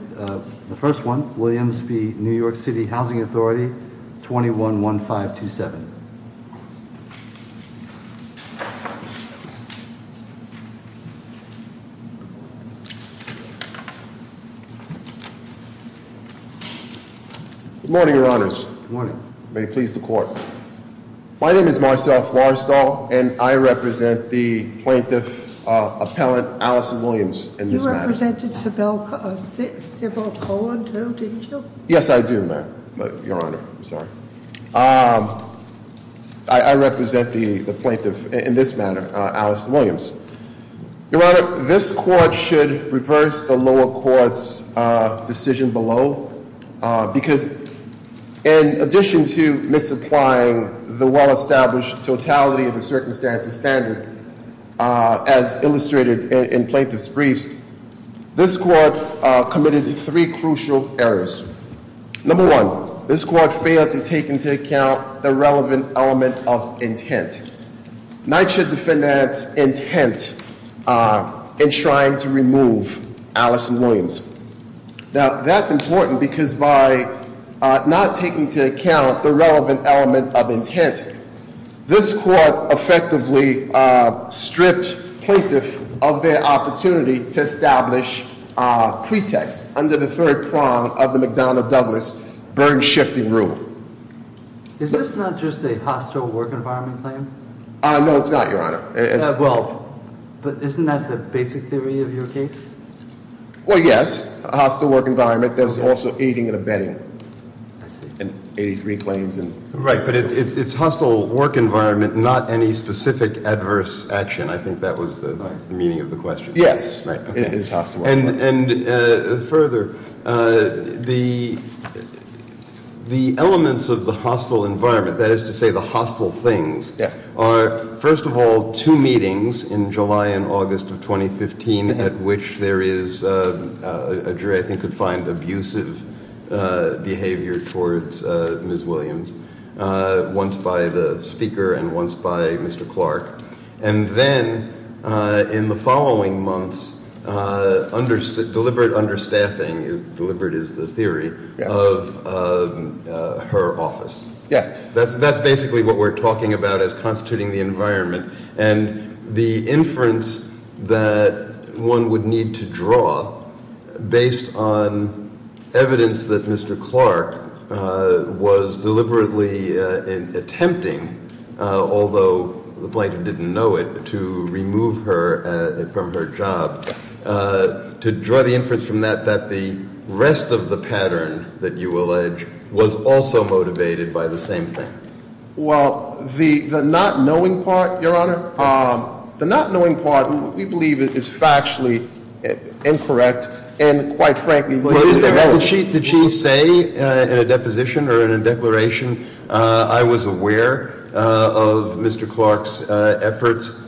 with the first one, Williams v. New York City Housing Authority, 21-1527. Good morning, your honors. Good morning. May it please the court. My name is Marcel Florestal, and I represent the plaintiff, Appellant Allison Williams, in this matter. You represented Civil Code, too, didn't you? Yes, I do, ma'am, your honor, I'm sorry. I represent the plaintiff in this matter, Alice Williams. Your honor, this court should reverse the lower court's decision below. Because in addition to misapplying the well-established totality of the circumstances standard, as illustrated in plaintiff's briefs, this court committed three crucial errors. Number one, this court failed to take into account the relevant element of intent. NYCHA defendants intent in trying to remove Allison Williams. Now, that's important because by not taking into account the relevant element of intent, this court effectively stripped plaintiff of their opportunity to establish a pretext under the third prong of the McDonough-Douglas burden-shifting rule. Is this not just a hostile work environment claim? No, it's not, your honor. Well, but isn't that the basic theory of your case? Well, yes, a hostile work environment. There's also aiding and abetting. I see. And 83 claims and- Right, but it's hostile work environment, not any specific adverse action. I think that was the meaning of the question. Yes. Right, okay, and further, the elements of the hostile environment, that is to say the hostile things, are, first of all, two meetings in July and you could find abusive behavior towards Ms. Williams, once by the speaker and once by Mr. Clark. And then in the following months, deliberate understaffing, deliberate is the theory, of her office. Yes. That's basically what we're talking about as constituting the environment. And the inference that one would need to draw based on evidence that Mr. Clark was deliberately attempting, although the plaintiff didn't know it, to remove her from her job. To draw the inference from that, that the rest of the pattern that you allege was also motivated by the same thing. Well, the not knowing part, Your Honor, the not knowing part we believe is factually incorrect, and quite frankly- But did she say in a deposition or in a declaration, I was aware of Mr. Clark's efforts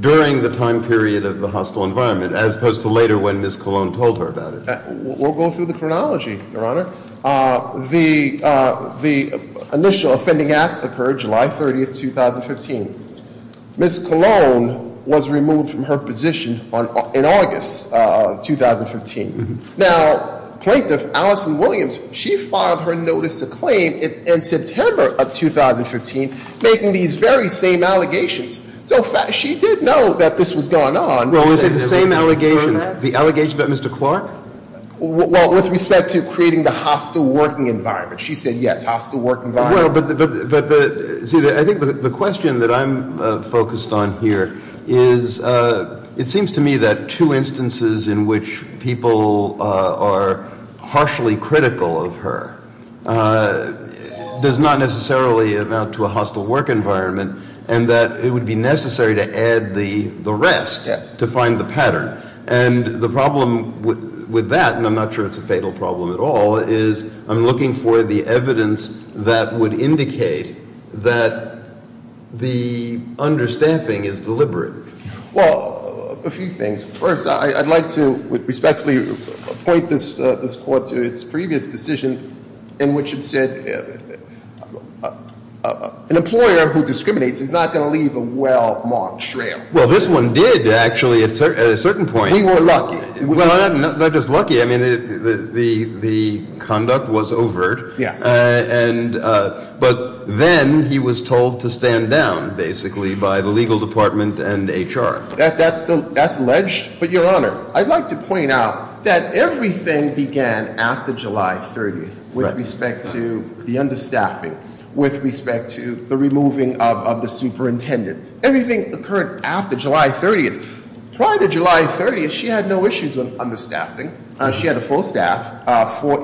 during the time period of the hostile environment, as opposed to later when Ms. Colon told her about it? We'll go through the chronology, Your Honor. The initial offending act occurred July 30th, 2015. Ms. Colon was removed from her position in August of 2015. Now, Plaintiff Allison Williams, she filed her notice of claim in September of 2015 making these very same allegations. So she did know that this was going on. Well, is it the same allegations, the allegations about Mr. Clark? Well, with respect to creating the hostile working environment, she said yes, hostile work environment. Well, but see, I think the question that I'm focused on here is, it seems to me that two instances in which people are harshly critical of her does not necessarily amount to a hostile work environment, and that it would be necessary to add the rest to find the pattern. And the problem with that, and I'm not sure it's a fatal problem at all, is I'm looking for the evidence that would indicate that the understaffing is deliberate. Well, a few things. First, I'd like to respectfully point this court to its previous decision in which it said, an employer who discriminates is not going to leave a well marked trail. Well, this one did, actually, at a certain point. We were lucky. Well, not just lucky, I mean, the conduct was overt. Yes. But then he was told to stand down, basically, by the legal department and HR. That's alleged, but your honor, I'd like to point out that everything began after July 30th, with respect to the understaffing, with respect to the removing of the superintendent. Everything occurred after July 30th. Prior to July 30th, she had no issues with understaffing. She had a full staff for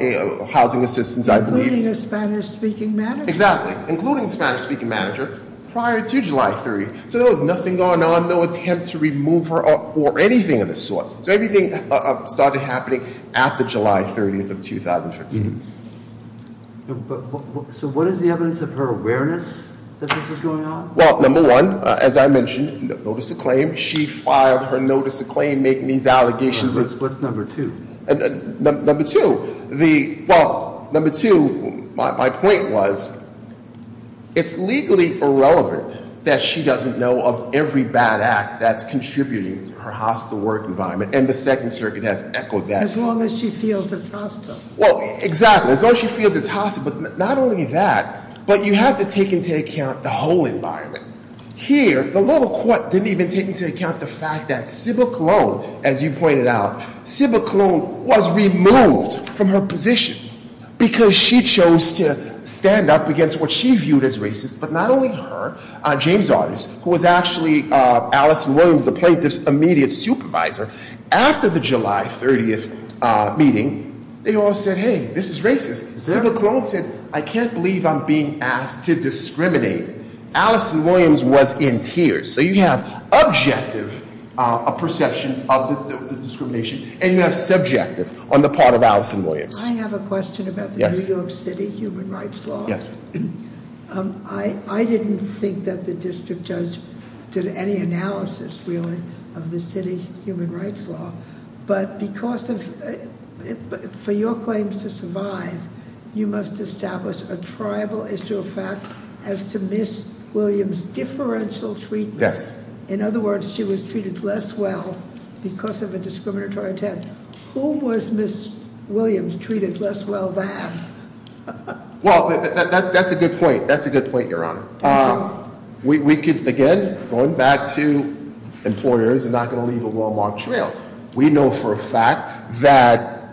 housing assistance, I believe. Including a Spanish speaking manager. Exactly, including a Spanish speaking manager, prior to July 30th. So there was nothing going on, no attempt to remove her or anything of the sort. So everything started happening after July 30th of 2015. So what is the evidence of her awareness that this is going on? Well, number one, as I mentioned, notice of claim. She filed her notice of claim making these allegations. What's number two? Number two, my point was, it's legally irrelevant that she doesn't know of every bad act that's contributing to her hostile work environment. And the Second Circuit has echoed that. As long as she feels it's hostile. Well, exactly, as long as she feels it's hostile. But not only that, but you have to take into account the whole environment. Here, the local court didn't even take into account the fact that Sybil Colon, as you pointed out, Sybil Colon was removed from her position because she chose to stand up against what she viewed as racist. But not only her, James Otters, who was actually Allison Williams, the plaintiff's immediate supervisor, after the July 30th meeting. They all said, hey, this is racist. Sybil Colon said, I can't believe I'm being asked to discriminate. Allison Williams was in tears. So you have objective perception of the discrimination, and you have subjective on the part of Allison Williams. I have a question about the New York City human rights law. Yes. I didn't think that the district judge did any analysis, really, of the city human rights law. But because of, for your claims to survive, you must establish a tribal issue of fact as to Ms. Williams' differential treatment. Yes. In other words, she was treated less well because of a discriminatory attempt. Who was Ms. Williams treated less well than? Well, that's a good point. That's a good point, Your Honor. We could, again, going back to employers are not going to leave a well marked trail. We know for a fact that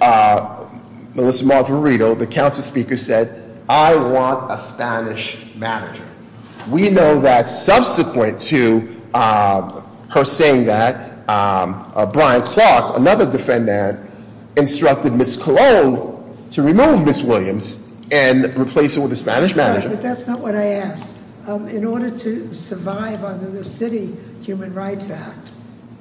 Melissa Marverito, the council speaker, said, I want a Spanish manager. We know that subsequent to her saying that, Brian Clark, another defendant, instructed Ms. Colon to remove Ms. Williams and replace her with a Spanish manager. All right, but that's not what I asked. In order to survive under the city human rights act,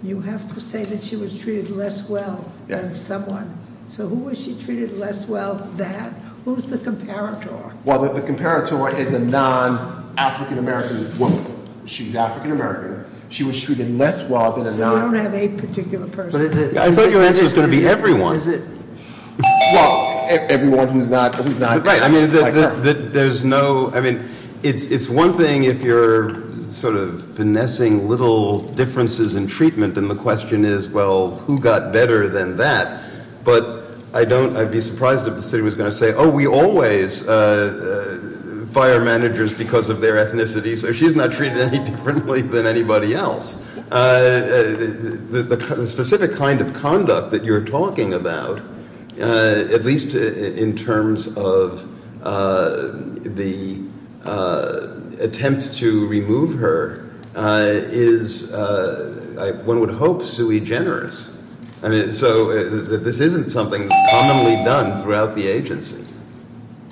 you have to say that she was treated less well than someone. So who was she treated less well than? Who's the comparator? Well, the comparator is a non-African American woman. She's African American. She was treated less well than a non- So we don't have a particular person. But is it? I thought your answer was going to be everyone. Is it? Well, everyone who's not- Right, I mean, it's one thing if you're sort of finessing little differences in treatment. And the question is, well, who got better than that? But I'd be surprised if the city was going to say, we always fire managers because of their ethnicity. So she's not treated any differently than anybody else. The specific kind of conduct that you're talking about, at least in terms of the attempt to remove her, is, one would hope, sui generis. So this isn't something that's commonly done throughout the agency.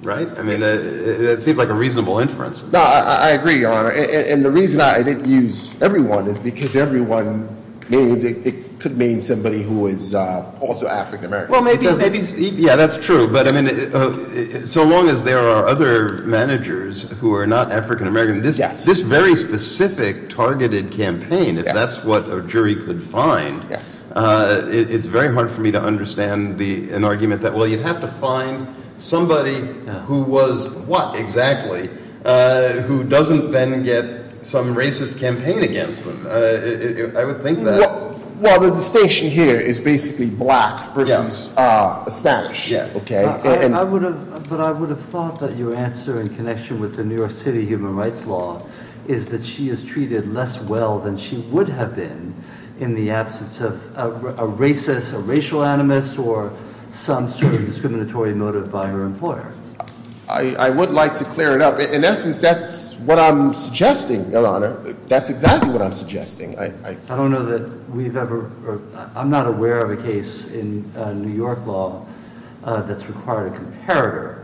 Right? I mean, it seems like a reasonable inference. No, I agree, Your Honor. And the reason I didn't use everyone is because everyone means, it could mean somebody who is also African American. Well, maybe, yeah, that's true. But I mean, so long as there are other managers who are not African American, this very specific targeted campaign, if that's what a jury could find. Yes. It's very hard for me to understand an argument that, well, you'd have to find somebody who was what, exactly? Who doesn't then get some racist campaign against them. I would think that- Well, the distinction here is basically black versus Spanish. Yeah, okay. But I would have thought that your answer, in connection with the New York City human rights law, is that she is treated less well than she would have been in the absence of a racist, a racial animus, or some sort of discriminatory motive by her employer. I would like to clear it up. In essence, that's what I'm suggesting, Your Honor. That's exactly what I'm suggesting. I don't know that we've ever, or I'm not aware of a case in New York law that's required a comparator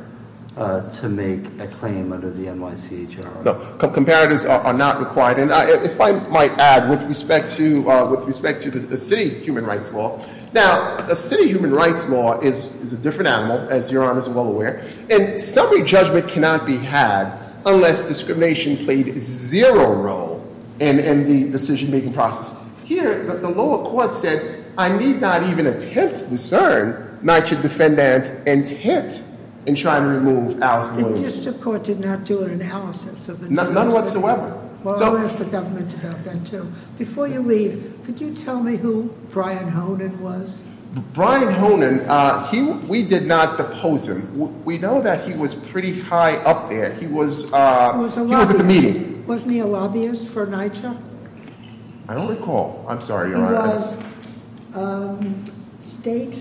to make a claim under the NYCHR. No, comparators are not required. And if I might add, with respect to the city human rights law. Now, a city human rights law is a different animal, as Your Honors are well aware. And summary judgment cannot be had unless discrimination played zero role in the decision making process. Here, the lower court said, I need not even attempt to discern NYCHR defendants and tent in trying to remove Alice Williams. The district court did not do an analysis of the NYCHR. None whatsoever. Well, I'll ask the government to help that too. Before you leave, could you tell me who Brian Honan was? Brian Honan, we did not depose him. We know that he was pretty high up there. He was at the meeting. Wasn't he a lobbyist for NYCHR? I don't recall. I'm sorry, Your Honor. He was state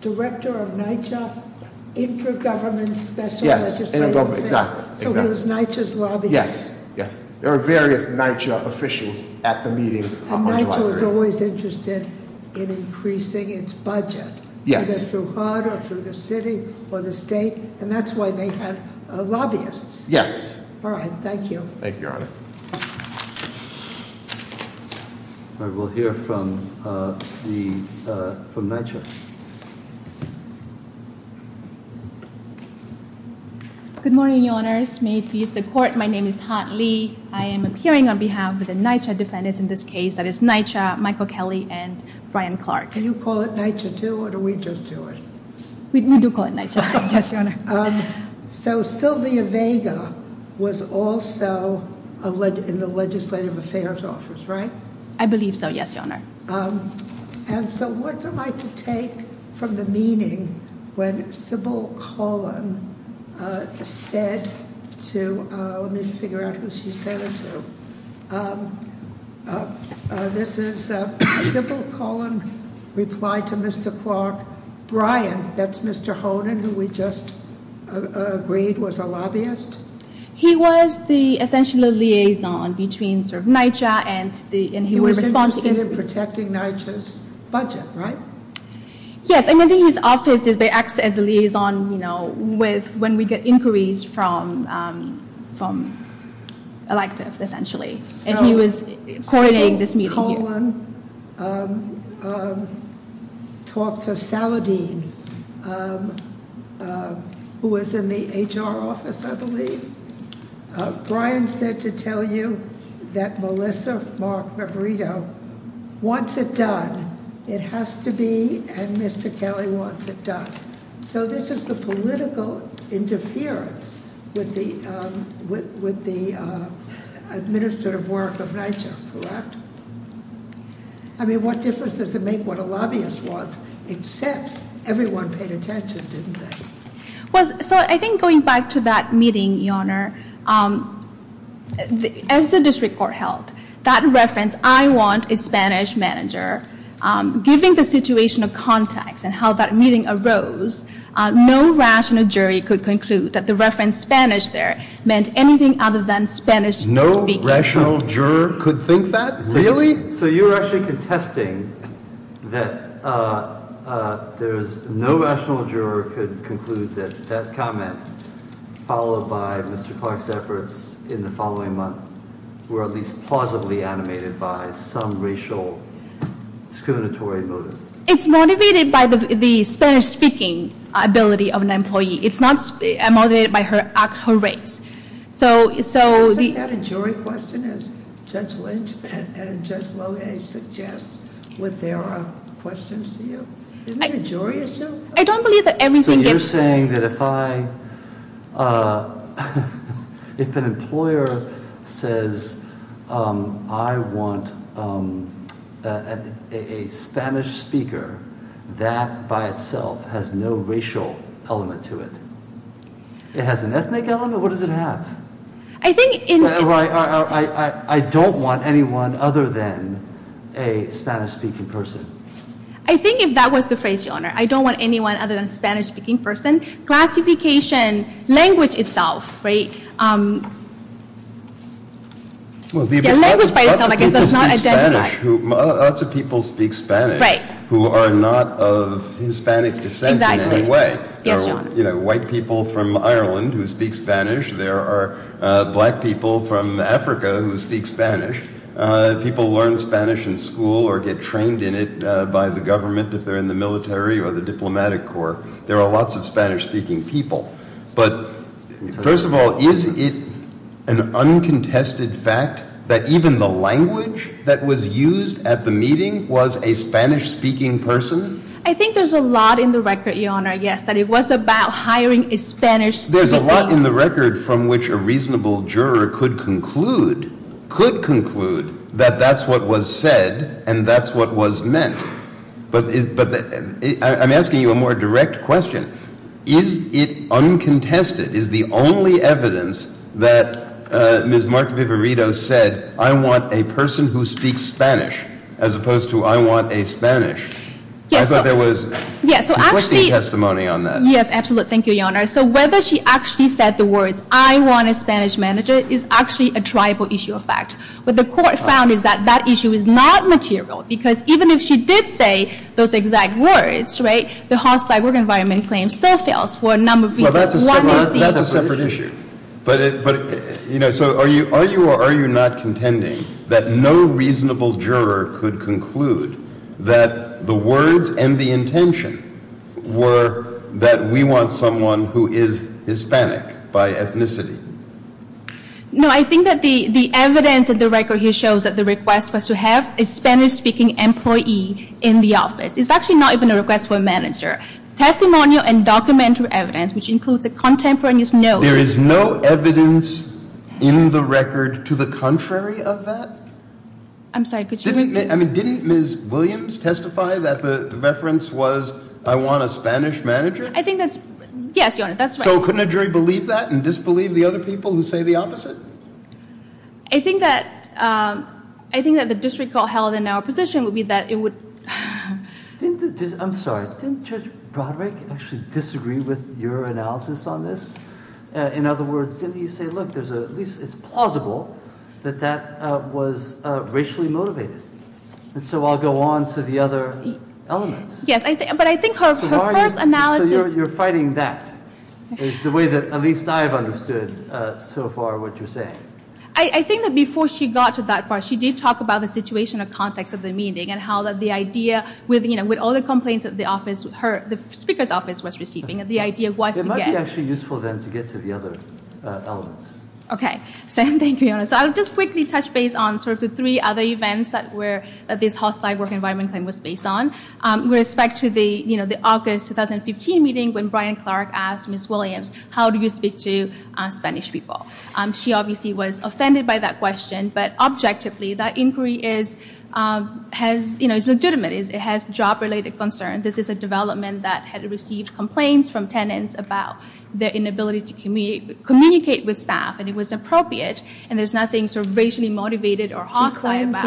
director of NYCHR Intergovernment Special Legislative Affairs. Yes, Intergovernment, exactly. So he was NYCHR's lobbyist. Yes, yes. There are various NYCHR officials at the meeting on July 3rd. And NYCHR is always interested in increasing its budget. Yes. Either through HUD or through the city or the state. And that's why they have lobbyists. Yes. All right, thank you. Thank you, Your Honor. We'll hear from the, from NYCHR. Good morning, Your Honors. May it please the court. My name is Han Lee. I am appearing on behalf of the NYCHR defendants in this case. That is NYCHR, Michael Kelly, and Brian Clark. Do you call it NYCHR, too, or do we just do it? We do call it NYCHR. Yes, Your Honor. So Sylvia Vega was also in the Legislative Affairs Office, right? I believe so, yes, Your Honor. And so what do I take from the meaning when Sybil Collin said to, let me figure out who she said it to. This is Sybil Collin reply to Mr. Clark. Brian, that's Mr. Honen, who we just agreed was a lobbyist? He was the essential liaison between NYCHR and the, and he was responsible for protecting NYCHR's budget, right? Yes, and I think his office, they act as the liaison with, when we get inquiries from electives, essentially. And he was coordinating this meeting here. So Sybil Collin talked to Saladine, who was in the HR office, I believe. Brian said to tell you that Melissa Mark-Riverito wants it done. It has to be, and Mr. Kelly wants it done. So this is the political interference with the administrative work of NYCHR, correct? I mean, what difference does it make what a lobbyist wants, except everyone paid attention, didn't they? So I think going back to that meeting, Your Honor, as the district court held, that reference, I want a Spanish manager, given the situation of context and how that meeting arose, no rational jury could conclude that the reference Spanish there meant anything other than Spanish speaking. No rational juror could think that, really? So you're actually contesting that there's no rational juror could conclude that that comment followed by Mr. Clark's efforts in the following month were at least plausibly animated by some racial discriminatory motive. It's motivated by the Spanish speaking ability of an employee. It's not motivated by her race. So- Isn't that a jury question, as Judge Lohage suggests, would there are questions to you? Isn't it a jury issue? I don't believe that everything gets- I'm saying that if I, if an employer says I want a Spanish speaker that by itself has no racial element to it, it has an ethnic element, what does it have? I don't want anyone other than a Spanish speaking person. I think if that was the phrase, Your Honor, I don't want anyone other than a Spanish speaking person. Classification, language itself, right, language by itself I guess does not identify- Lots of people speak Spanish who are not of Hispanic descent in any way. There are white people from Ireland who speak Spanish. There are black people from Africa who speak Spanish. People learn Spanish in school or get trained in it by the government if they're in the military or the diplomatic corps. There are lots of Spanish speaking people. But first of all, is it an uncontested fact that even the language that was used at the meeting was a Spanish speaking person? I think there's a lot in the record, Your Honor, yes, that it was about hiring a Spanish speaking- That that's what was said and that's what was meant. But I'm asking you a more direct question. Is it uncontested, is the only evidence that Ms. Mark Viverito said I want a person who speaks Spanish as opposed to I want a Spanish? I thought there was conflicting testimony on that. Yes, absolutely. Thank you, Your Honor. So whether she actually said the words I want a Spanish manager is actually a tribal issue of fact. What the court found is that that issue is not material. Because even if she did say those exact words, right, the hostile work environment claim still fails for a number of reasons. One is- That's a separate issue. But, you know, so are you or are you not contending that no reasonable juror could conclude that the words and the intention were that we want someone who is Hispanic by ethnicity? No, I think that the evidence of the record here shows that the request was to have a Spanish speaking employee in the office. It's actually not even a request for a manager. Testimonial and documentary evidence, which includes a contemporaneous note- There is no evidence in the record to the contrary of that? I'm sorry, could you repeat? I mean, didn't Ms. Williams testify that the reference was I want a Spanish manager? I think that's, yes, Your Honor, that's right. So couldn't a jury believe that and disbelieve the other people who say the opposite? I think that the disrecall held in our position would be that it would- I'm sorry, didn't Judge Broderick actually disagree with your analysis on this? In other words, didn't he say, look, at least it's plausible that that was racially motivated. And so I'll go on to the other elements. Yes, but I think her first analysis- So you're fighting that is the way that at least I've understood so far what you're saying. I think that before she got to that part, she did talk about the situation or context of the meeting and how the idea, with all the complaints that the speaker's office was receiving, the idea was to get- It might be actually useful then to get to the other elements. Okay, same thing, Your Honor. So I'll just quickly touch base on sort of the three other events that this hostile work environment claim was based on. With respect to the August 2015 meeting when Brian Clark asked Ms. Williams, how do you speak to Spanish people? She obviously was offended by that question, but objectively that inquiry is legitimate. It has job-related concern. This is a development that had received complaints from tenants about their inability to communicate with staff. And it was appropriate, and there's nothing sort of racially motivated or hostile about-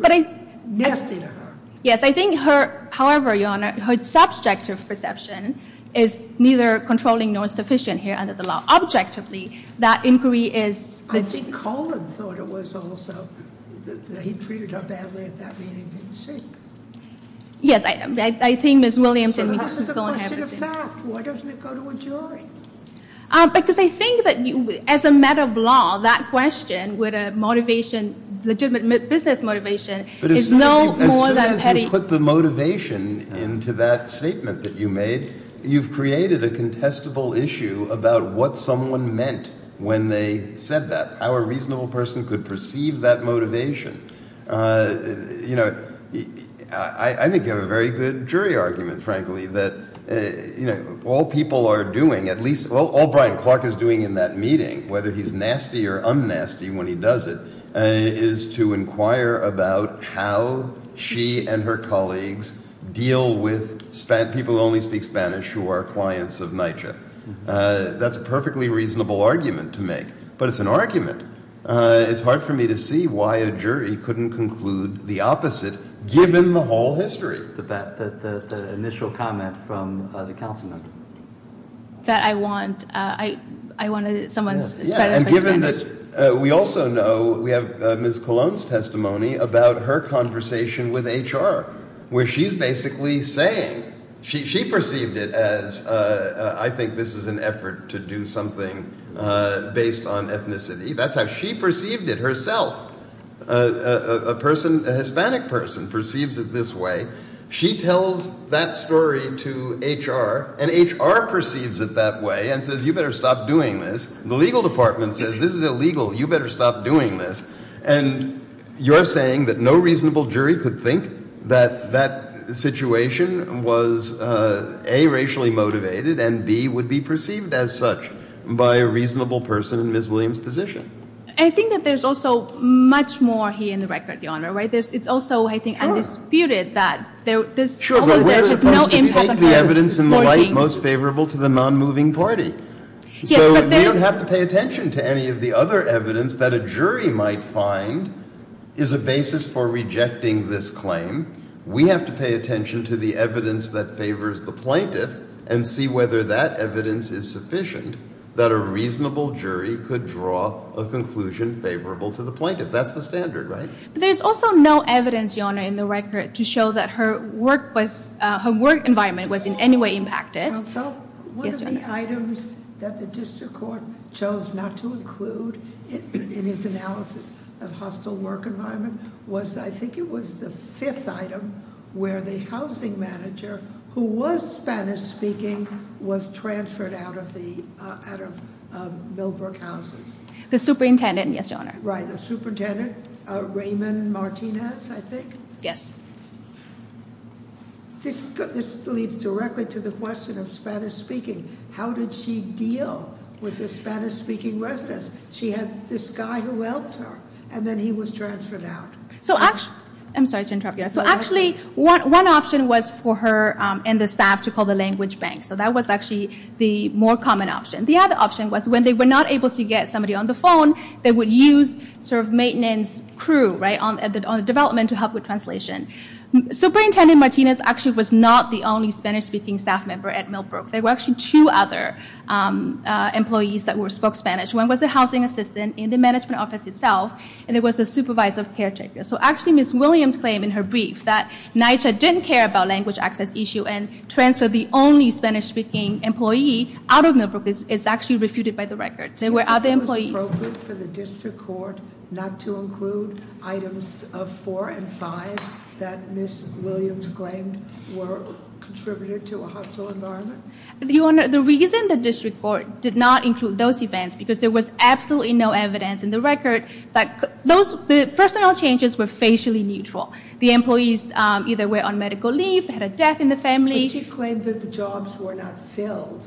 But I- Nasty to her. Yes, I think her, however, Your Honor, her subjective perception is neither controlling nor sufficient here under the law. Objectively, that inquiry is- I think Colin thought it was also that he treated her badly at that meeting, didn't he? Yes, I think Ms. Williams and- So that's just a question of fact. Why doesn't it go to a jury? Because I think that as a matter of law, that question with a legitimate business motivation is no more than petty- But as soon as you put the motivation into that statement that you made, you've created a contestable issue about what someone meant when they said that. How a reasonable person could perceive that motivation. I think you have a very good jury argument, frankly, that all people are doing, at least all Brian Clark is doing in that meeting, whether he's nasty or un-nasty when he does it, is to inquire about how she and her colleagues deal with people who only speak Spanish who are clients of NYCHA. That's a perfectly reasonable argument to make, but it's an argument. It's hard for me to see why a jury couldn't conclude the opposite, given the whole history. But that initial comment from the council member. That I want someone's Spanish by Spanish. We also know, we have Ms. Colon's testimony about her conversation with HR, where she's basically saying, she perceived it as, I think this is an effort to do something based on ethnicity. That's how she perceived it herself. A Hispanic person perceives it this way. She tells that story to HR, and HR perceives it that way and says, you better stop doing this. The legal department says, this is illegal, you better stop doing this. And you're saying that no reasonable jury could think that that situation was A, and B would be perceived as such by a reasonable person in Ms. Williams' position. I think that there's also much more here in the record, Your Honor, right? It's also, I think, undisputed that there's- Sure, but we're supposed to take the evidence in the light most favorable to the non-moving party. So we don't have to pay attention to any of the other evidence that a jury might find is a basis for rejecting this claim. We have to pay attention to the evidence that favors the plaintiff and see whether that evidence is sufficient that a reasonable jury could draw a conclusion favorable to the plaintiff. That's the standard, right? But there's also no evidence, Your Honor, in the record to show that her work environment was in any way impacted. So one of the items that the district court chose not to include in its analysis of hostile work environment was, I think it was the fifth item, where the housing manager, who was Spanish speaking, was transferred out of Millbrook Houses. The superintendent, yes, Your Honor. Right, the superintendent, Raymond Martinez, I think? Yes. This leads directly to the question of Spanish speaking. How did she deal with the Spanish speaking residents? This guy who helped her, and then he was transferred out. So actually, I'm sorry to interrupt you. So actually, one option was for her and the staff to call the language bank. So that was actually the more common option. The other option was when they were not able to get somebody on the phone, they would use maintenance crew on the development to help with translation. Superintendent Martinez actually was not the only Spanish speaking staff member at Millbrook. There were actually two other employees that spoke Spanish. One was the housing assistant in the management office itself, and there was a supervisor caretaker. So actually, Ms. Williams' claim in her brief that NYCHA didn't care about language access issue and transferred the only Spanish speaking employee out of Millbrook is actually refuted by the record. There were other employees- Is it appropriate for the district court not to include items of four and five that Ms. Williams claimed were contributed to a hostile environment? The reason the district court did not include those events, because there was absolutely no evidence in the record, that the personal changes were facially neutral. The employees either were on medical leave, had a death in the family. But she claimed that the jobs were not filled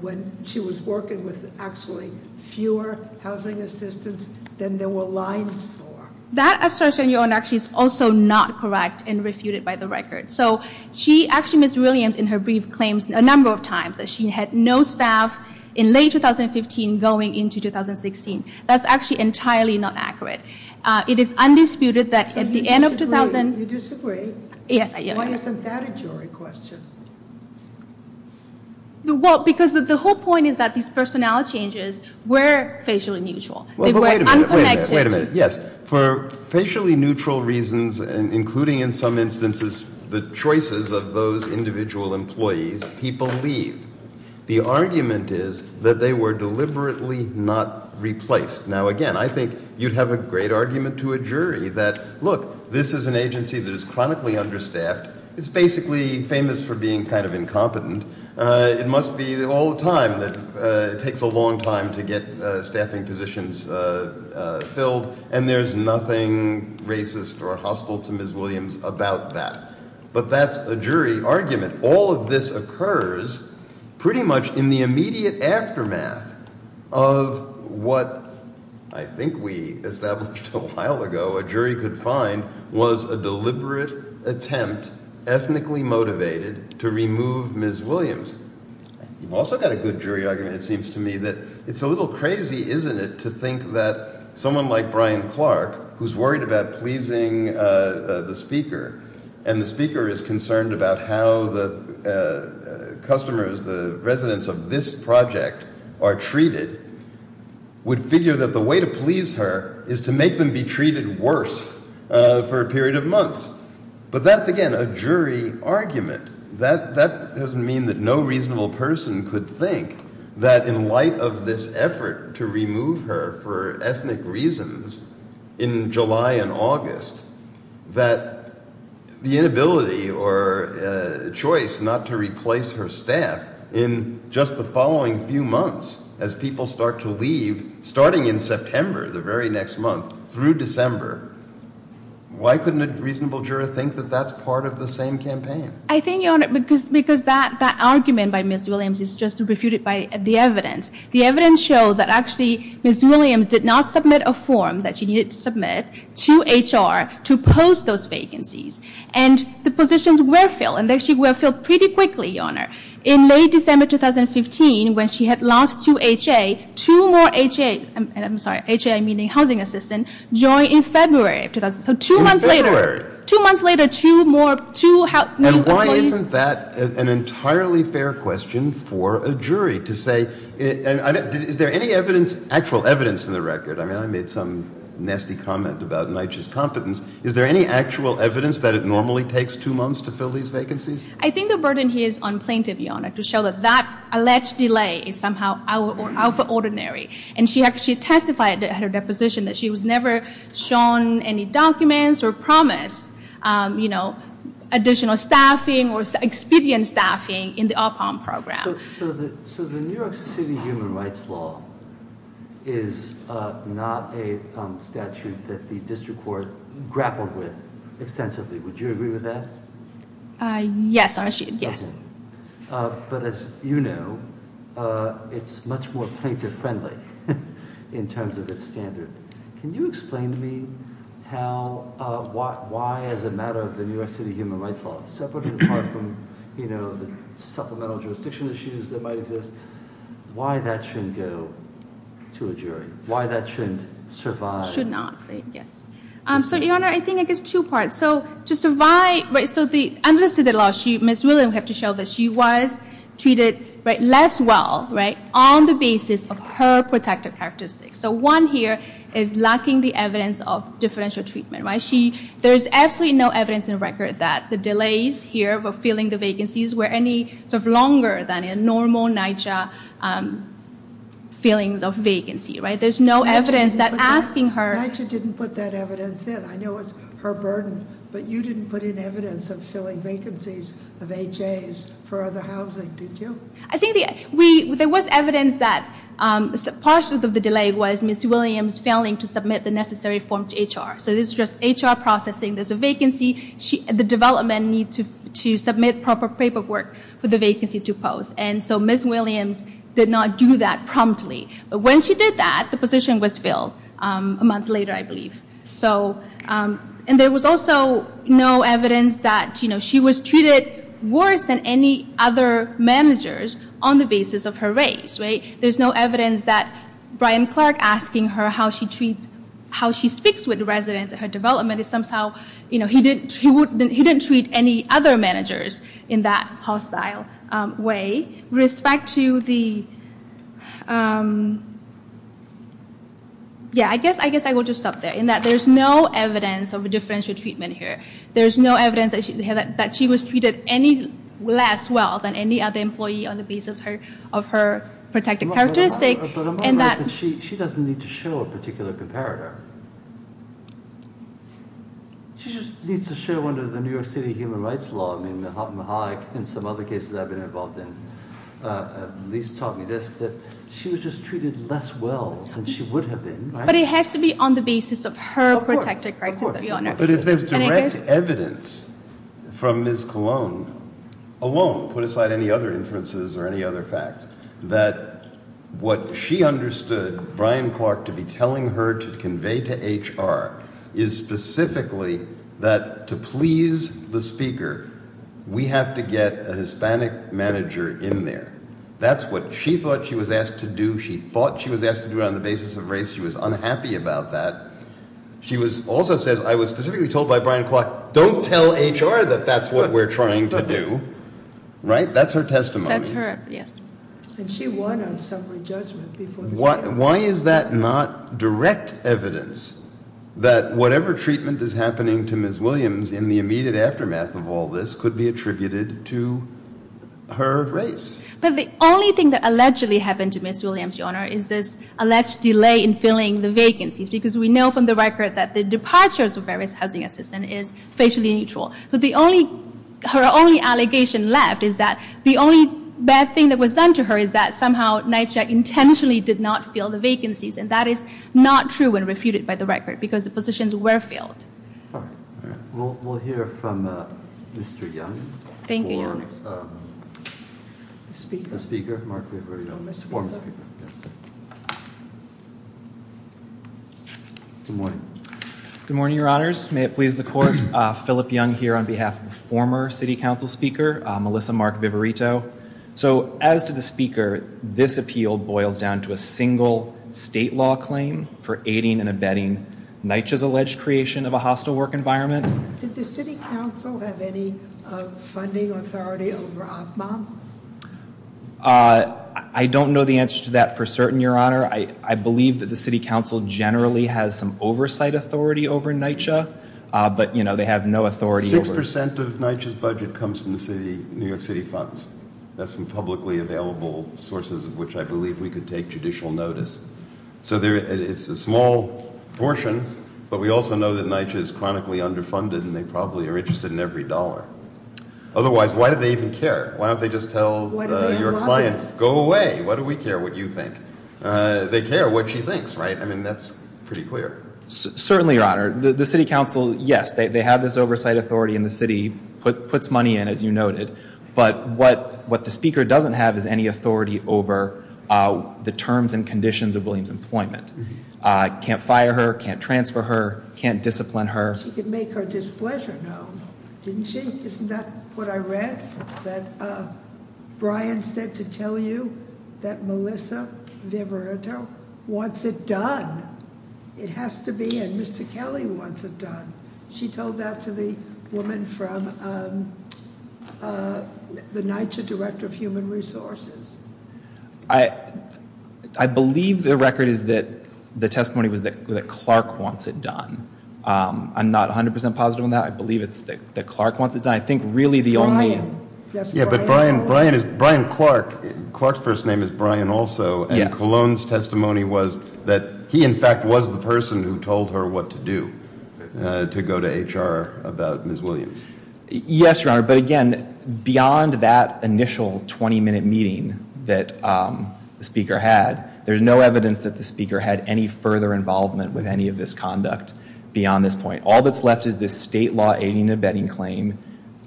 when she was working with actually fewer housing assistants than there were lines for. That assertion, Your Honor, actually is also not correct and refuted by the record. So she actually, Ms. Williams, in her brief, claims a number of times that she had no staff in late 2015 going into 2016. That's actually entirely not accurate. It is undisputed that at the end of 2000- You disagree? Yes, I do. Why isn't that a jury question? Well, because the whole point is that these personnel changes were facially neutral. They were unconnected to- The choices of those individual employees, people leave. The argument is that they were deliberately not replaced. Now again, I think you'd have a great argument to a jury that, look, this is an agency that is chronically understaffed. It's basically famous for being kind of incompetent. It must be all the time that it takes a long time to get staffing positions filled. And there's nothing racist or hostile to Ms. Williams about that. But that's a jury argument. All of this occurs pretty much in the immediate aftermath of what I think we established a while ago, a jury could find, was a deliberate attempt, ethnically motivated, to remove Ms. Williams. You've also got a good jury argument, it seems to me, that it's a little crazy, isn't it, to think that someone like Brian Clark, who's worried about pleasing the Speaker, and the Speaker is concerned about how the customers, the residents of this project, are treated, would figure that the way to please her is to make them be treated worse for a period of months. But that's, again, a jury argument. That doesn't mean that no reasonable person could think that in light of this effort to remove her for ethnic reasons in July and August, that the inability or choice not to replace her staff in just the following few months, as people start to leave, starting in September, the very next month, through December, why couldn't a reasonable juror think that that's part of the same campaign? I think, Your Honor, because that argument by Ms. Williams is just refuted by the evidence. The evidence shows that actually Ms. Williams did not submit a form that she needed to submit to HR to post those vacancies. And the positions were filled, and actually were filled pretty quickly, Your Honor. In late December 2015, when she had lost two HA, two more HA, and I'm sorry, HA meaning housing assistant, joined in February of 2000. So two months later. Two months later, two more, two new employees. And why isn't that an entirely fair question for a jury to say, is there any evidence, actual evidence in the record? I mean, I made some nasty comment about NYCHA's competence. Is there any actual evidence that it normally takes two months to fill these vacancies? I think the burden here is on Plaintiff, Your Honor, to show that that alleged delay is somehow out of the ordinary. And she actually testified at her deposition that she was never shown any documents or promised additional staffing or expedient staffing in the UPOM program. So the New York City Human Rights Law is not a statute that the district court grappled with extensively. Would you agree with that? Yes, I should, yes. But as you know, it's much more plaintiff friendly in terms of its standard. Can you explain to me how, why as a matter of the New York City Human Rights Law, separate and apart from the supplemental jurisdiction issues that might exist, why that shouldn't go to a jury, why that shouldn't survive? Should not, right, yes. So, Your Honor, I think it's two parts. So, to survive, right, so under the city law, Ms. Williams have to show that she was treated less well, right, on the basis of her protective characteristics. So one here is lacking the evidence of differential treatment, right? There's absolutely no evidence in record that the delays here for filling the vacancies were any sort of longer than a normal NYCHA filling of vacancy, right? There's no evidence that asking her- NYCHA didn't put that evidence in. I know it's her burden, but you didn't put in evidence of filling vacancies of HAs for other housing, did you? I think there was evidence that part of the delay was Ms. Williams failing to submit the necessary form to HR. So this is just HR processing, there's a vacancy, the development need to submit proper paperwork for the vacancy to post. And so Ms. Williams did not do that promptly. But when she did that, the position was filled a month later, I believe. So, and there was also no evidence that, you know, she was treated worse than any other managers on the basis of her race, right? There's no evidence that Brian Clark asking her how she treats, how she speaks with the residents at her development is somehow, you know, he didn't treat any other managers in that hostile way. Respect to the, yeah, I guess I will just stop there. In that there's no evidence of a differential treatment here. There's no evidence that she was treated any less well than any other employee on the basis of her protected characteristic. And that- She doesn't need to show a particular comparator. She just needs to show under the New York City Human Rights Law, I mean, in some other cases I've been involved in, at least taught me this, that she was just treated less well than she would have been, right? But it has to be on the basis of her protected characteristic, Your Honor. But if there's direct evidence from Ms. Colon alone, put aside any other inferences or any other facts, that what she understood Brian Clark to be telling her to convey to HR is specifically that to please the speaker, we have to get a Hispanic manager in there. That's what she thought she was asked to do. She thought she was asked to do it on the basis of race. She was unhappy about that. She also says, I was specifically told by Brian Clark, don't tell HR that that's what we're trying to do, right? That's her testimony. That's her, yes. And she won on summary judgment before the hearing. Why is that not direct evidence that whatever treatment is happening to Ms. Williams in the immediate aftermath of all this could be attributed to her race? But the only thing that allegedly happened to Ms. Williams, Your Honor, is this alleged delay in filling the vacancies. Because we know from the record that the departures of various housing assistance is facially neutral. So her only allegation left is that the only bad thing that was done to her is that somehow NYSJA intentionally did not fill the vacancies. And that is not true when refuted by the record, because the positions were filled. All right, all right, we'll hear from Mr. Young. Thank you, Your Honor. The speaker, Mark Viverito, former speaker, yes. Good morning. Good morning, Your Honors. May it please the court, Philip Young here on behalf of the former city council speaker, Melissa Mark Viverito. So as to the speaker, this appeal boils down to a single state law claim for a hostile work environment. Did the city council have any funding authority over OPMOM? I don't know the answer to that for certain, Your Honor. I believe that the city council generally has some oversight authority over NYCHA, but they have no authority over- 6% of NYCHA's budget comes from the New York City funds. That's from publicly available sources of which I believe we could take judicial notice. So it's a small portion, but we also know that NYCHA is chronically underfunded and they probably are interested in every dollar. Otherwise, why do they even care? Why don't they just tell your client, go away, why do we care what you think? They care what she thinks, right? I mean, that's pretty clear. Certainly, Your Honor. The city council, yes, they have this oversight authority and the city puts money in, as you noted. But what the speaker doesn't have is any authority over the terms and conditions of William's employment. Can't fire her, can't transfer her, can't discipline her. She could make her displeasure known, didn't she? Isn't that what I read? That Brian said to tell you that Melissa Viverito wants it done. She told that to the woman from the NYCHA Director of Human Resources. I believe the record is that the testimony was that Clark wants it done. I'm not 100% positive on that. I believe it's that Clark wants it done. I think really the only- Yeah, but Brian Clark, Clark's first name is Brian also. And Colon's testimony was that he in fact was the person who told her what to do to go to HR about Ms. Williams. Yes, Your Honor, but again, beyond that initial 20 minute meeting that the speaker had, there's no evidence that the speaker had any further involvement with any of this conduct beyond this point. All that's left is this state law aiding and abetting claim.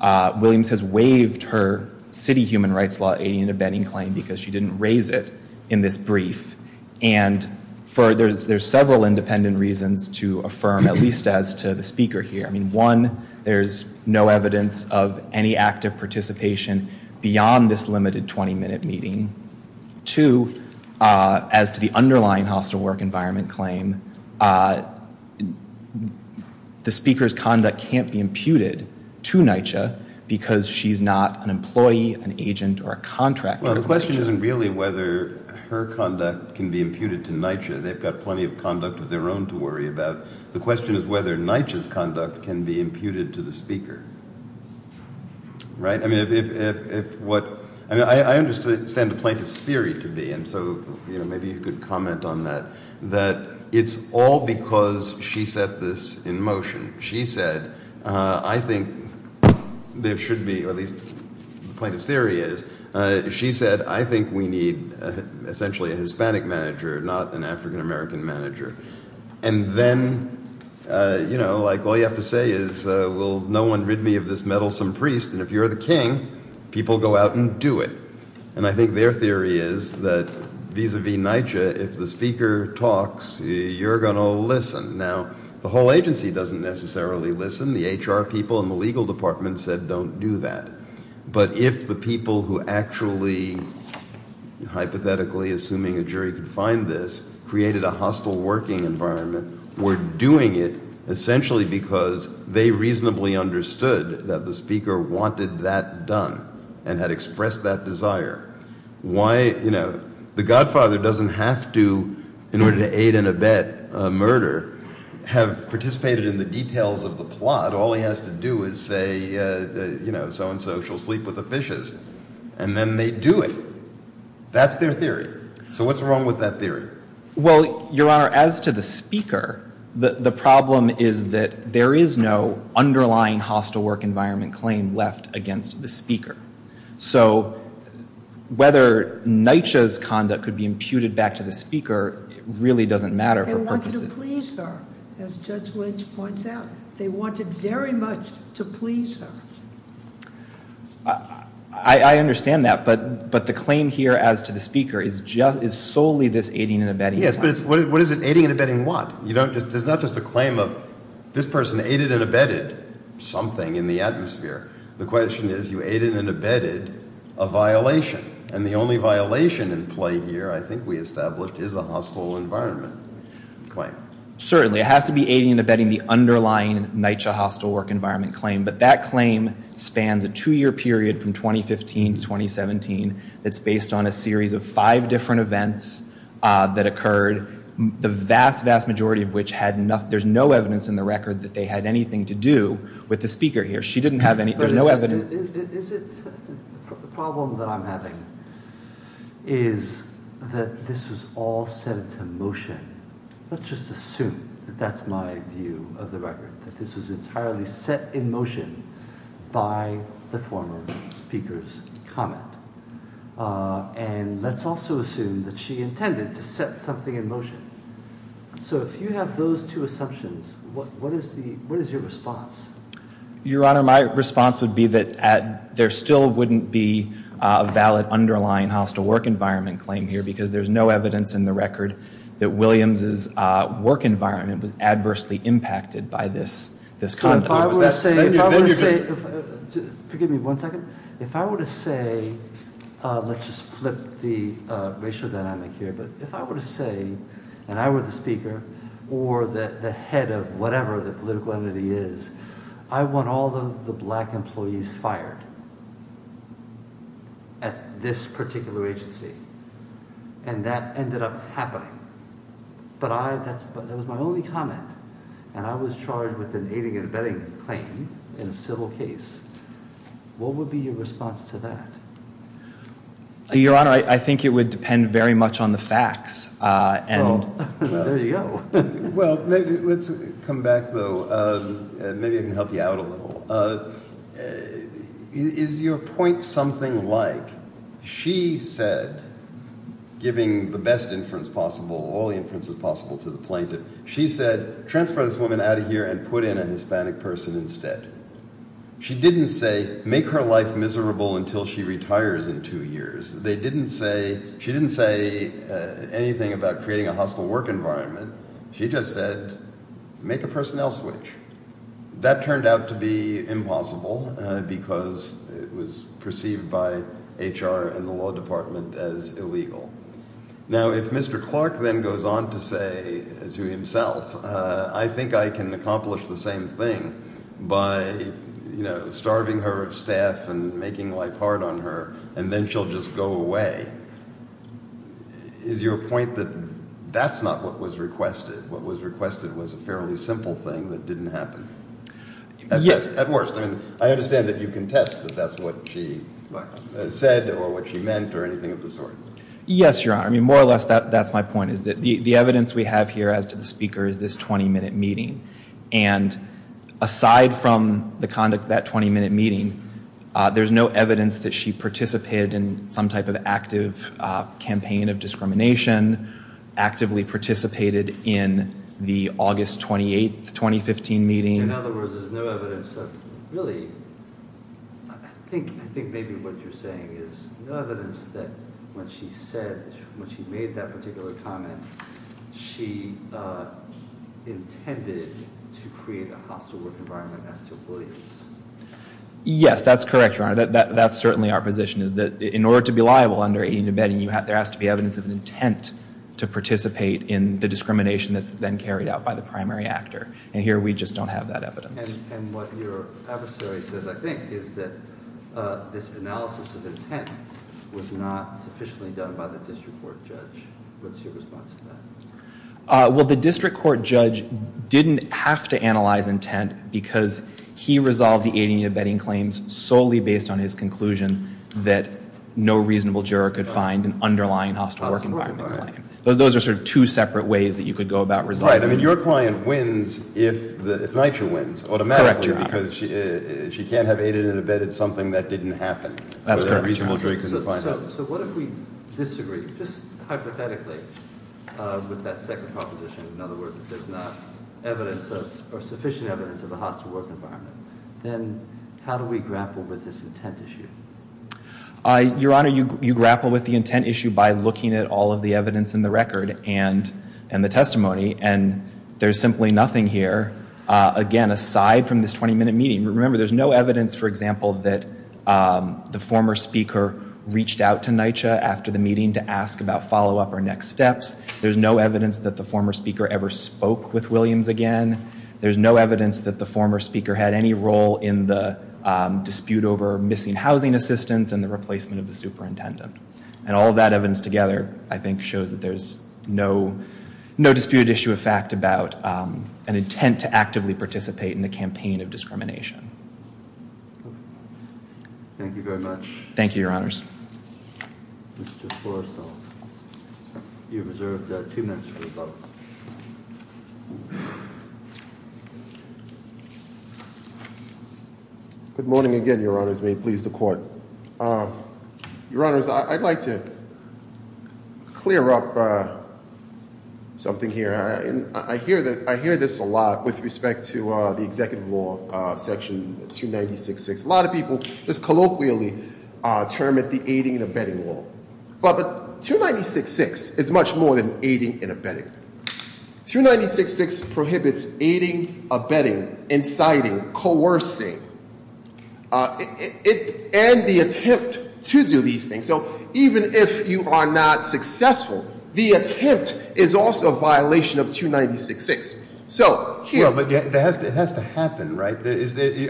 Williams has waived her city human rights law aiding and abetting claim because she didn't raise it in this brief. And there's several independent reasons to affirm, at least as to the speaker here. I mean, one, there's no evidence of any active participation beyond this limited 20 minute meeting. Two, as to the underlying hostile work environment claim, the speaker's conduct can't be imputed to NYCHA because she's not an employee, an agent, or a contractor. Well, the question isn't really whether her conduct can be imputed to NYCHA. They've got plenty of conduct of their own to worry about. The question is whether NYCHA's conduct can be imputed to the speaker. Right, I mean, if what, I understand the plaintiff's theory to be, and so maybe you could comment on that. That it's all because she set this in motion. She said, I think there should be, or at least the plaintiff's theory is. She said, I think we need essentially a Hispanic manager, not an African American manager. And then, all you have to say is, will no one rid me of this meddlesome priest? And if you're the king, people go out and do it. And I think their theory is that, vis-a-vis NYCHA, if the speaker talks, you're going to listen. Now, the whole agency doesn't necessarily listen. The HR people and the legal department said, don't do that. But if the people who actually, hypothetically, assuming a jury could find this, created a hostile working environment, were doing it essentially because they reasonably understood that the speaker wanted that done. And had expressed that desire. Why, you know, the godfather doesn't have to, in order to aid and abet a murder, have participated in the details of the plot. All he has to do is say, you know, so and so shall sleep with the fishes. And then, they do it. That's their theory. So, what's wrong with that theory? Well, your honor, as to the speaker, the problem is that there is no underlying hostile work environment claim left against the speaker. So, whether NYCHA's conduct could be imputed back to the speaker, it really doesn't matter for purposes. They wanted to please her, as Judge Lynch points out. They wanted very much to please her. I understand that, but the claim here as to the speaker is solely this aiding and abetting. Yes, but what is it, aiding and abetting what? You don't, there's not just a claim of this person aided and abetted something in the atmosphere. The question is, you aided and abetted a violation. And the only violation in play here, I think we established, is a hostile environment claim. Certainly, it has to be aiding and abetting the underlying NYCHA hostile work environment claim. But that claim spans a two-year period from 2015 to 2017 that's based on a series of five different events that occurred. The vast, vast majority of which had enough, there's no evidence in the record that they had anything to do with the speaker here. She didn't have any, there's no evidence. Is it, the problem that I'm having is that this was all set into motion. Let's just assume that that's my view of the record, that this was entirely set in motion by the former speaker's comment. And let's also assume that she intended to set something in motion. So, if you have those two assumptions, what is your response? Your Honor, my response would be that there still wouldn't be a valid underlying hostile work environment claim here because there's no evidence in the record that Williams' work environment was adversely impacted by this conduct. If I were to say, forgive me one second. If I were to say, let's just flip the racial dynamic here. But if I were to say, and I were the speaker or the head of whatever the political entity is, I want all of the black employees fired at this particular agency. And that ended up happening. But I, that was my only comment. And I was charged with an aiding and abetting claim in a civil case. What would be your response to that? Your Honor, I think it would depend very much on the facts. And there you go. Well, let's come back though, maybe I can help you out a little. Is your point something like, she said, giving the best inference possible, all the inferences possible to the plaintiff. She said, transfer this woman out of here and put in a Hispanic person instead. She didn't say, make her life miserable until she retires in two years. They didn't say, she didn't say anything about creating a hostile work environment. She just said, make a personnel switch. That turned out to be impossible because it was perceived by HR and the law department as illegal. Now, if Mr. Clark then goes on to say to himself, I think I can accomplish the same thing by starving her of staff and making life hard on her, and then she'll just go away. Is your point that that's not what was requested? What was requested was a fairly simple thing that didn't happen? Yes, at worst. I understand that you contest that that's what she said or what she meant or anything of the sort. Yes, Your Honor. I mean, more or less, that's my point, is that the evidence we have here, as to the speaker, is this 20-minute meeting. And aside from the conduct of that 20-minute meeting, there's no evidence that she participated in some type of active campaign of discrimination, actively participated in the August 28, 2015 meeting. In other words, there's no evidence of really, I think maybe what you're saying is no evidence that when she said, when she made that particular comment, she intended to create a hostile work environment as to Williams. Yes, that's correct, Your Honor. That's certainly our position, is that in order to be liable under aiding and abetting, there has to be evidence of an intent to participate in the discrimination that's then carried out by the primary actor. And here, we just don't have that evidence. And what your adversary says, I think, is that this analysis of intent was not sufficiently done by the district court judge. What's your response to that? Well, the district court judge didn't have to analyze intent, because he resolved the aiding and abetting claims solely based on his conclusion that no reasonable juror could find an underlying hostile work environment claim. Those are sort of two separate ways that you could go about resolving them. Right, I mean, your client wins if NYCHA wins automatically, because she can't have aided and abetted something that didn't happen. That's correct. A reasonable juror couldn't find it. So what if we disagree, just hypothetically, with that second proposition? In other words, if there's not sufficient evidence of a hostile work environment, then how do we grapple with this intent issue? Your Honor, you grapple with the intent issue by looking at all of the evidence in the record and the testimony. And there's simply nothing here, again, aside from this 20-minute meeting. Remember, there's no evidence, for example, that the former speaker reached out to NYCHA after the meeting to ask about follow-up or next steps. There's no evidence that the former speaker ever spoke with Williams again. There's no evidence that the former speaker had any role in the dispute over missing housing assistance and the replacement of the superintendent. And all of that evidence together, I think, shows that there's no disputed issue of fact about an intent to actively participate in the campaign of discrimination. Thank you very much. Thank you, Your Honors. Mr. Forrestal, you're reserved two minutes for the vote. Good morning again, Your Honors. May it please the Court. Your Honors, I'd like to clear up something here. I hear this a lot with respect to the executive law section 296-6. A lot of people just colloquially term it the aiding and abetting law. But 296-6 is much more than aiding and abetting. 296-6 prohibits aiding, abetting, inciting, coercing, and the attempt to do these things. So even if you are not successful, the attempt is also a violation of 296-6. So here- Well, but it has to happen, right? Are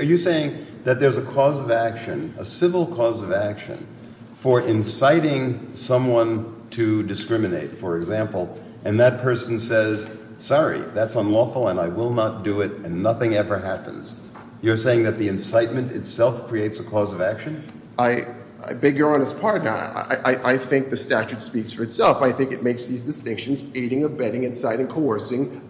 you saying that there's a cause of action, a civil cause of action, for inciting someone to discriminate, for example, and that person says, sorry, that's unlawful, and I will not do it, and nothing ever happens. You're saying that the incitement itself creates a cause of action? I beg Your Honor's pardon, I think the statute speaks for itself. I think it makes these distinctions, aiding, abetting, inciting, coercing,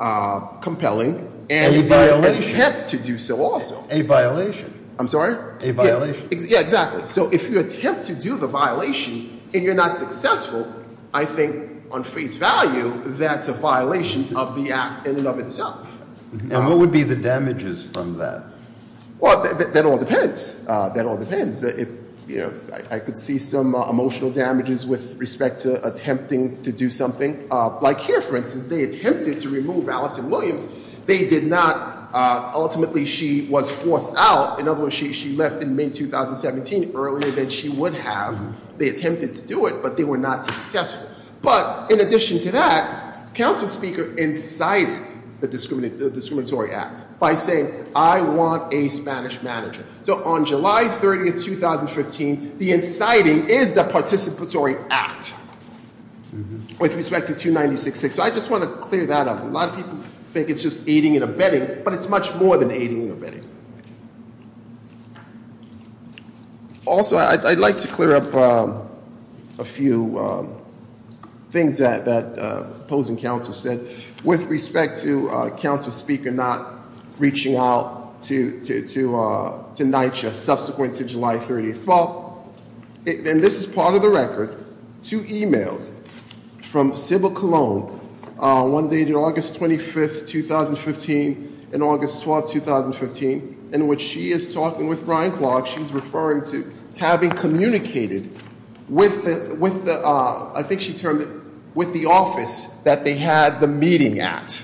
compelling. And you've got an attempt to do so also. A violation. I'm sorry? A violation. Yeah, exactly. So if you attempt to do the violation and you're not successful, I think on face value that's a violation of the act in and of itself. And what would be the damages from that? Well, that all depends. That all depends. If I could see some emotional damages with respect to attempting to do something. Like here, for instance, they attempted to remove Allison Williams. They did not, ultimately she was forced out. In other words, she left in May 2017 earlier than she would have. They attempted to do it, but they were not successful. But in addition to that, Council Speaker incited the discriminatory act by saying, I want a Spanish manager. So on July 30th, 2015, the inciting is the participatory act with respect to 296-6. So I just want to clear that up. A lot of people think it's just aiding and abetting, but it's much more than aiding and abetting. Also, I'd like to clear up a few things that the Opposing Council said. With respect to Council Speaker not reaching out to NYCHA subsequent to July 30th. Well, and this is part of the record. Two emails from Sybil Colon, one dated August 25th, 2015 and August 12th, 2015, in which she is talking with Brian Clark. She's referring to having communicated with the, I think she termed it, with the office that they had the meeting at.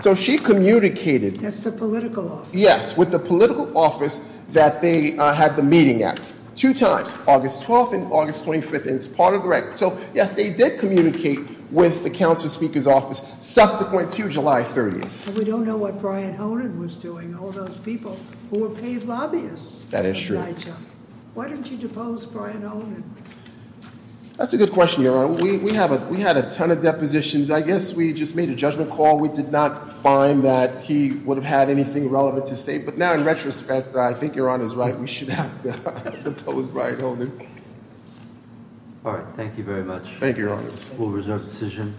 So she communicated- That's the political office. Yes, with the political office that they had the meeting at. Two times, August 12th and August 25th, and it's part of the record. So, yes, they did communicate with the Council Speaker's office subsequent to July 30th. We don't know what Brian Honan was doing, all those people who were paid lobbyists. That is true. Why didn't you depose Brian Honan? That's a good question, Your Honor. We had a ton of depositions. I guess we just made a judgment call. We did not find that he would have had anything relevant to say. But now, in retrospect, I think Your Honor's right. We should have deposed Brian Honan. Thank you. All right, thank you very much. Thank you, Your Honor. We'll reserve the decision.